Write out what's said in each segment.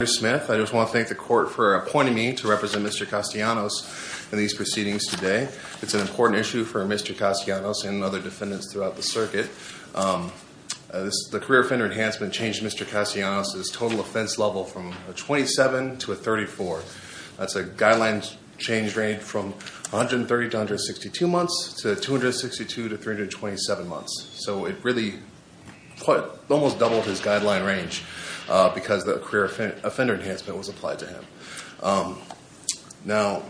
I just want to thank the court for appointing me to represent Mr. Castellanos in these proceedings today. It's an important issue for Mr. Castellanos and other defendants throughout the circuit. The career offender enhancement changed Mr. Castellanos' total offense level from a 27 to a 34. That's a guideline change rate from 130 to 162 months to 262 to 327 months. So it really almost doubled his guideline range because the career offender enhancement was applied to him. Now,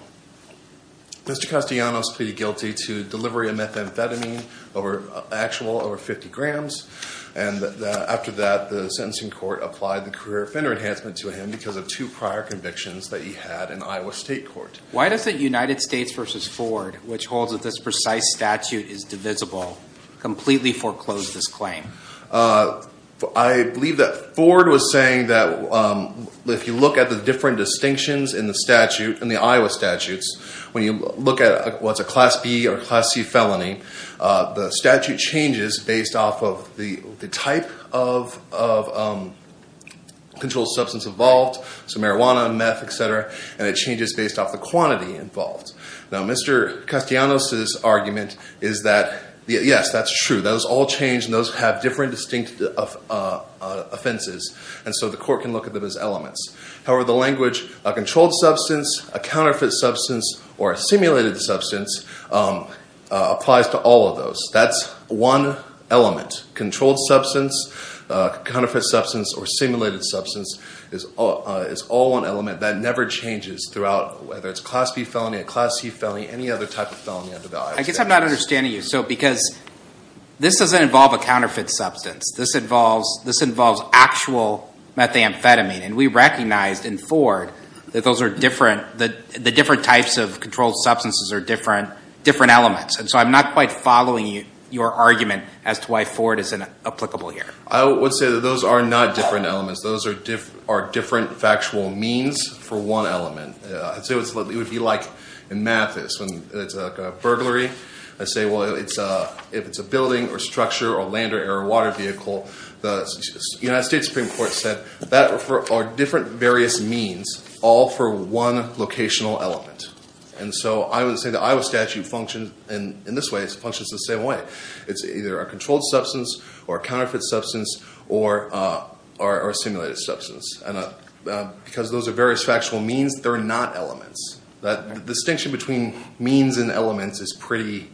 Mr. Castellanos pleaded guilty to delivery of methamphetamine over actual over 50 grams. And after that, the sentencing court applied the career offender enhancement to him because of two prior convictions that he had in Iowa State Court. Why does the United States v. Ford, which holds that this precise statute is divisible, completely foreclose this claim? I believe that Ford was saying that if you look at the different distinctions in the Iowa statutes, when you look at what's a Class B or Class C felony, the statute changes based off of the type of controlled substance involved, so marijuana, meth, etc. And it changes based off the quantity involved. Now, Mr. Castellanos' argument is that, yes, that's true. Those all change and those have different distinct offenses. And so the court can look at them as elements. However, the language, a controlled substance, a counterfeit substance, or a simulated substance applies to all of those. That's one element. Controlled substance, counterfeit substance, or simulated substance is all one element. That never changes throughout, whether it's a Class B felony, a Class C felony, any other type of felony under the Iowa statutes. I guess I'm not understanding you. So because this doesn't involve a counterfeit substance. This involves actual methamphetamine. And we recognized in Ford that the different types of controlled substances are different elements. And so I'm not quite following your argument as to why Ford isn't applicable here. I would say that those are not different elements. Those are different factual means for one element. I'd say what it would be like in math is when it's a burglary. I'd say, well, if it's a building or structure or land or air or water vehicle. The United States Supreme Court said that are different various means all for one locational element. And so I would say the Iowa statute functions in this way. It functions the same way. It's either a controlled substance or a counterfeit substance or a simulated substance. And because those are various factual means, they're not elements. That distinction between means and elements is pretty,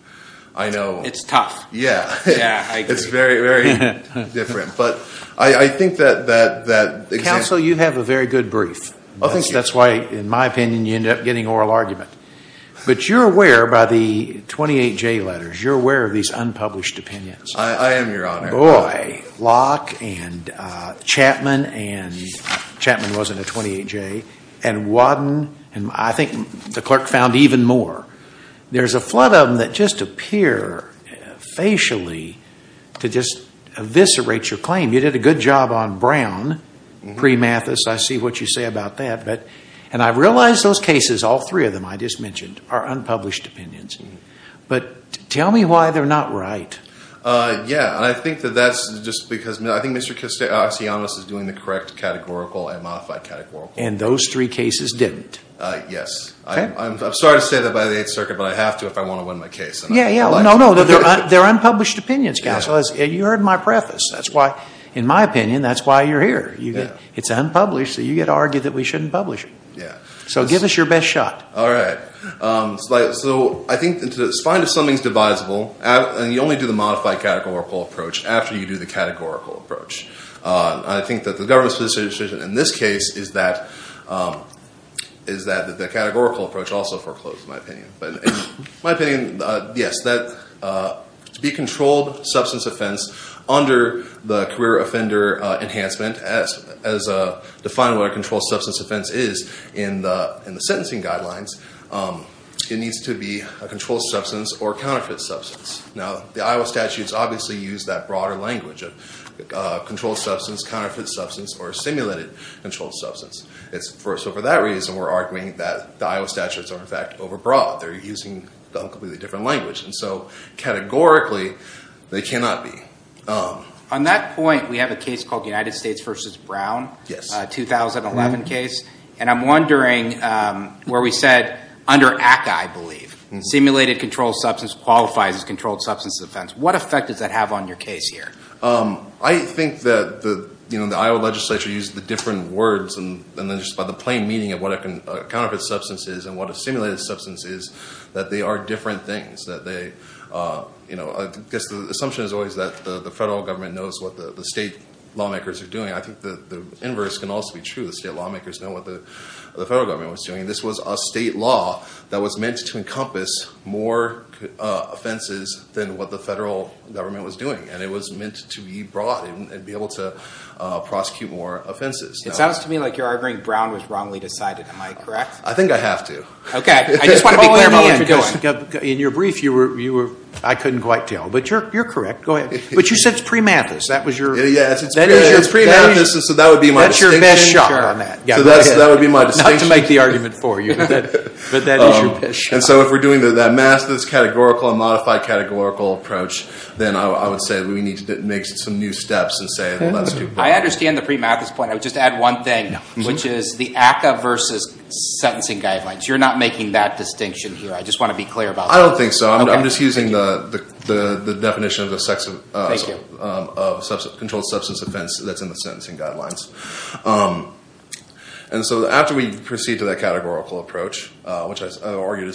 I know. It's tough. Yeah. Yeah, I agree. It's very, very different. But I think that that example. Counsel, you have a very good brief. Thank you. I think that's why, in my opinion, you end up getting oral argument. But you're aware by the 28J letters, you're aware of these unpublished opinions. I am, Your Honor. Boy, Locke and Chapman and Chapman wasn't a 28J. And Wadden and I think the clerk found even more. There's a flood of them that just appear facially to just eviscerate your claim. You did a good job on Brown pre-Mathis. I see what you say about that. And I realize those cases, all three of them I just mentioned, are unpublished opinions. But tell me why they're not right. Yeah. I think that that's just because I think Mr. Castellanos is doing the correct categorical and modified categorical. And those three cases didn't. Yes. I'm sorry to say that by the Eighth Circuit, but I have to if I want to win my case. Yeah, yeah. No, no. They're unpublished opinions, Counsel. You heard my preface. That's why, in my opinion, that's why you're here. It's unpublished, so you get to argue that we shouldn't publish it. Yeah. So give us your best shot. All right. So I think it's fine if something's divisible. And you only do the modified categorical approach after you do the categorical approach. I think that the government's position in this case is that the categorical approach also foreclosed, in my opinion. But in my opinion, yes, to be a controlled substance offense under the career offender enhancement, as defined what a controlled substance offense is in the sentencing guidelines, it needs to be a controlled substance or counterfeit substance. Now, the Iowa statutes obviously use that broader language of controlled substance, counterfeit substance, or simulated controlled substance. So for that reason, we're arguing that the Iowa statutes are, in fact, overbroad. They're using a completely different language. And so categorically, they cannot be. On that point, we have a case called United States v. Brown, a 2011 case. Stimulated controlled substance qualifies as controlled substance offense. What effect does that have on your case here? I think that the Iowa legislature used the different words, and just by the plain meaning of what a counterfeit substance is and what a simulated substance is, that they are different things. I guess the assumption is always that the federal government knows what the state lawmakers are doing. I think the inverse can also be true. The state lawmakers know what the federal government was doing. This was a state law that was meant to encompass more offenses than what the federal government was doing, and it was meant to be brought and be able to prosecute more offenses. It sounds to me like you're arguing Brown was wrongly decided. Am I correct? I think I have to. Okay. I just want to be clear about what you're doing. In your brief, I couldn't quite tell. But you're correct. Go ahead. But you said it's pre-Mathis. That is your pre-Mathis, so that would be my distinction. That's your best shot on that. So that would be my distinction. Not to make the argument for you, but that is your best shot. So if we're doing that master's categorical and modified categorical approach, then I would say we need to make some new steps and say let's do Brown. I understand the pre-Mathis point. I would just add one thing, which is the ACCA versus sentencing guidelines. You're not making that distinction here. I just want to be clear about that. I don't think so. I'm just using the definition of the controlled substance offense that's in the sentencing guidelines. And so after we proceed to that categorical approach, which I argue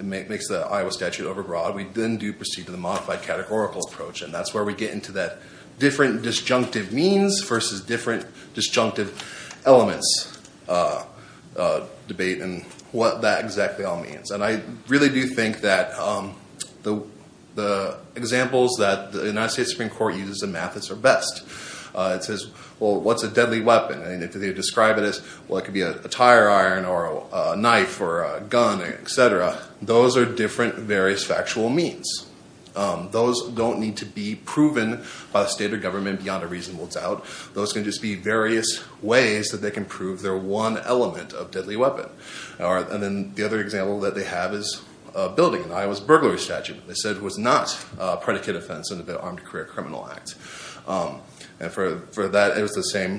makes the Iowa statute overbroad, we then do proceed to the modified categorical approach. And that's where we get into that different disjunctive means versus different disjunctive elements debate and what that exactly all means. And I really do think that the examples that the United States Supreme Court uses in Mathis are best. It says, well, what's a deadly weapon? And if they describe it as, well, it could be a tire iron or a knife or a gun, et cetera, those are different various factual means. Those don't need to be proven by the state or government beyond a reasonable doubt. Those can just be various ways that they can prove their one element of deadly weapon. And then the other example that they have is a building in Iowa's burglary statute. They said it was not a predicate offense under the Armed Career Criminal Act. And for that, it was the same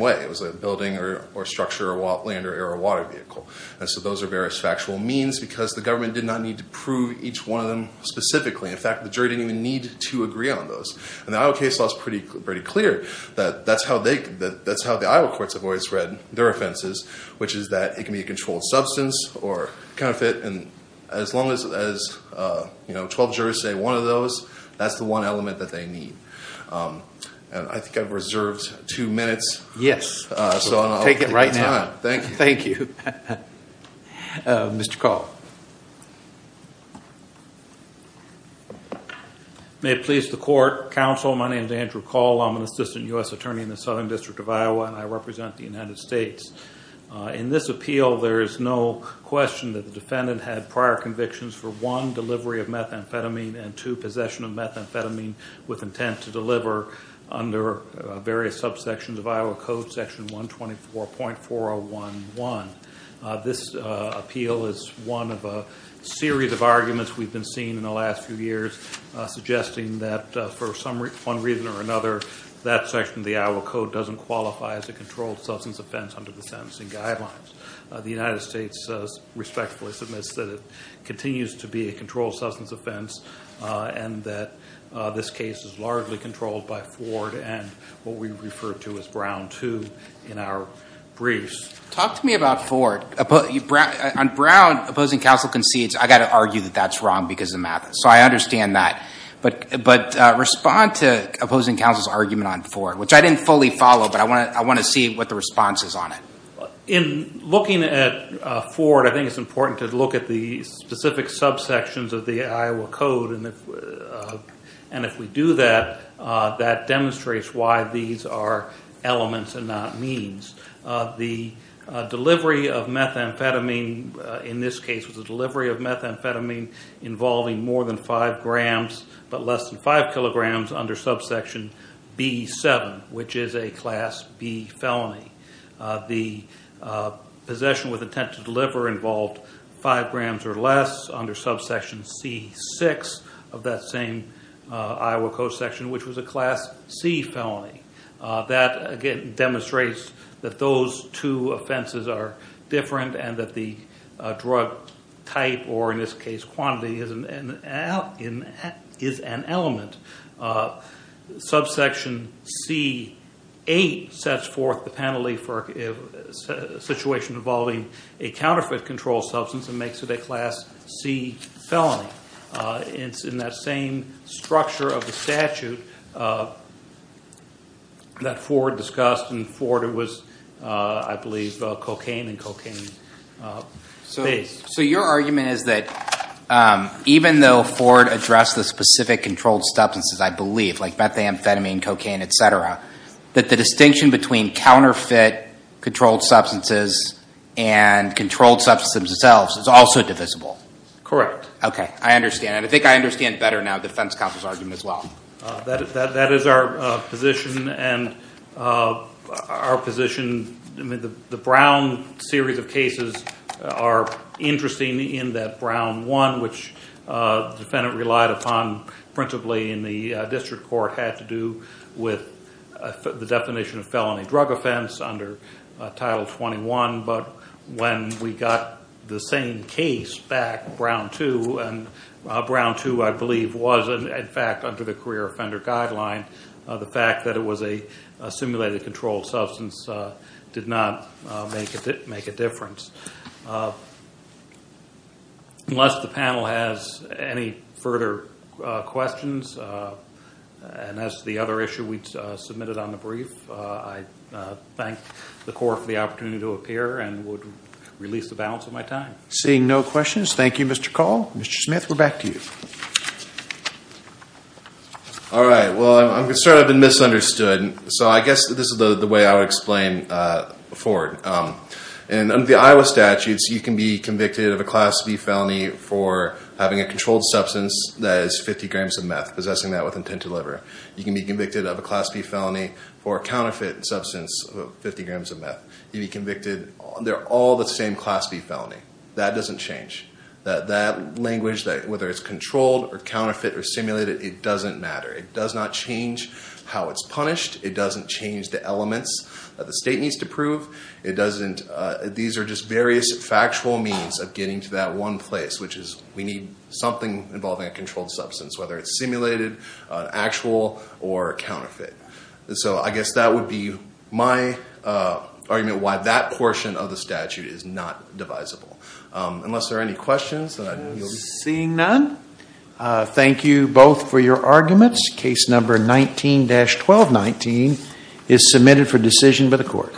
way. It was a building or structure or land or air or water vehicle. And so those are various factual means because the government did not need to prove each one of them specifically. In fact, the jury didn't even need to agree on those. And the Iowa case law is pretty clear that that's how the Iowa courts have always read their offenses, which is that it can be a controlled substance or counterfeit. And as long as, you know, 12 jurors say one of those, that's the one element that they need. And I think I've reserved two minutes. Yes. So I'll take the time. Take it right now. Thank you. Thank you. Mr. Call. May it please the Court. Counsel, my name is Andrew Call. I'm an assistant U.S. attorney in the Southern District of Iowa, and I represent the United States. In this appeal, there is no question that the defendant had prior convictions for, one, delivery of methamphetamine and, two, possession of methamphetamine with intent to deliver under various subsections of Iowa Code, Section 124.4011. This appeal is one of a series of arguments we've been seeing in the last few years, suggesting that for some reason or another, that section of the Iowa Code doesn't qualify as a controlled substance offense under the sentencing guidelines. The United States respectfully submits that it continues to be a controlled substance offense and that this case is largely controlled by Ford and what we refer to as Brown II in our briefs. Talk to me about Ford. On Brown, opposing counsel concedes, I've got to argue that that's wrong because of meth. So I understand that. But respond to opposing counsel's argument on Ford, which I didn't fully follow, but I want to see what the response is on it. In looking at Ford, I think it's important to look at the specific subsections of the Iowa Code, and if we do that, that demonstrates why these are elements and not means. The delivery of methamphetamine in this case was the delivery of methamphetamine involving more than 5 grams but less than 5 kilograms under subsection B-7, which is a Class B felony. The possession with intent to deliver involved 5 grams or less under subsection C-6 of that same Iowa Code section, which was a Class C felony. That, again, demonstrates that those two offenses are different and that the drug type or, in this case, quantity is an element. Subsection C-8 sets forth the penalty for a situation involving a counterfeit controlled substance and makes it a Class C felony. It's in that same structure of the statute that Ford discussed. In Ford, it was, I believe, cocaine and cocaine-based. So your argument is that even though Ford addressed the specific controlled substances, I believe, like methamphetamine, cocaine, et cetera, that the distinction between counterfeit controlled substances and controlled substances themselves is also divisible. Correct. Okay, I understand. And I think I understand better now the defense counsel's argument as well. That is our position. And our position, I mean, the Brown series of cases are interesting in that Brown 1, which the defendant relied upon principally in the district court, had to do with the definition of felony drug offense under Title 21. But when we got the same case back, Brown 2, and Brown 2, I believe, was in fact under the career offender guideline, the fact that it was a simulated controlled substance did not make a difference. Unless the panel has any further questions, and as to the other issue we submitted on the brief, I thank the court for the opportunity to appear and would release the balance of my time. Seeing no questions, thank you, Mr. Call. Mr. Smith, we're back to you. All right, well, I'm concerned I've been misunderstood. So I guess this is the way I would explain Ford. Under the Iowa statutes, you can be convicted of a Class B felony for having a controlled substance that is 50 grams of meth, possessing that with intent to deliver. You can be convicted of a Class B felony for a counterfeit substance of 50 grams of meth. You can be convicted. They're all the same Class B felony. That doesn't change. That language, whether it's controlled or counterfeit or simulated, it doesn't matter. It does not change how it's punished. It doesn't change the elements that the state needs to prove. It doesn't. These are just various factual means of getting to that one place, which is we need something involving a controlled substance, whether it's simulated, actual, or counterfeit. So I guess that would be my argument why that portion of the statute is not divisible. Unless there are any questions, then I yield. Seeing none, thank you both for your arguments. Case number 19-1219 is submitted for decision by the court.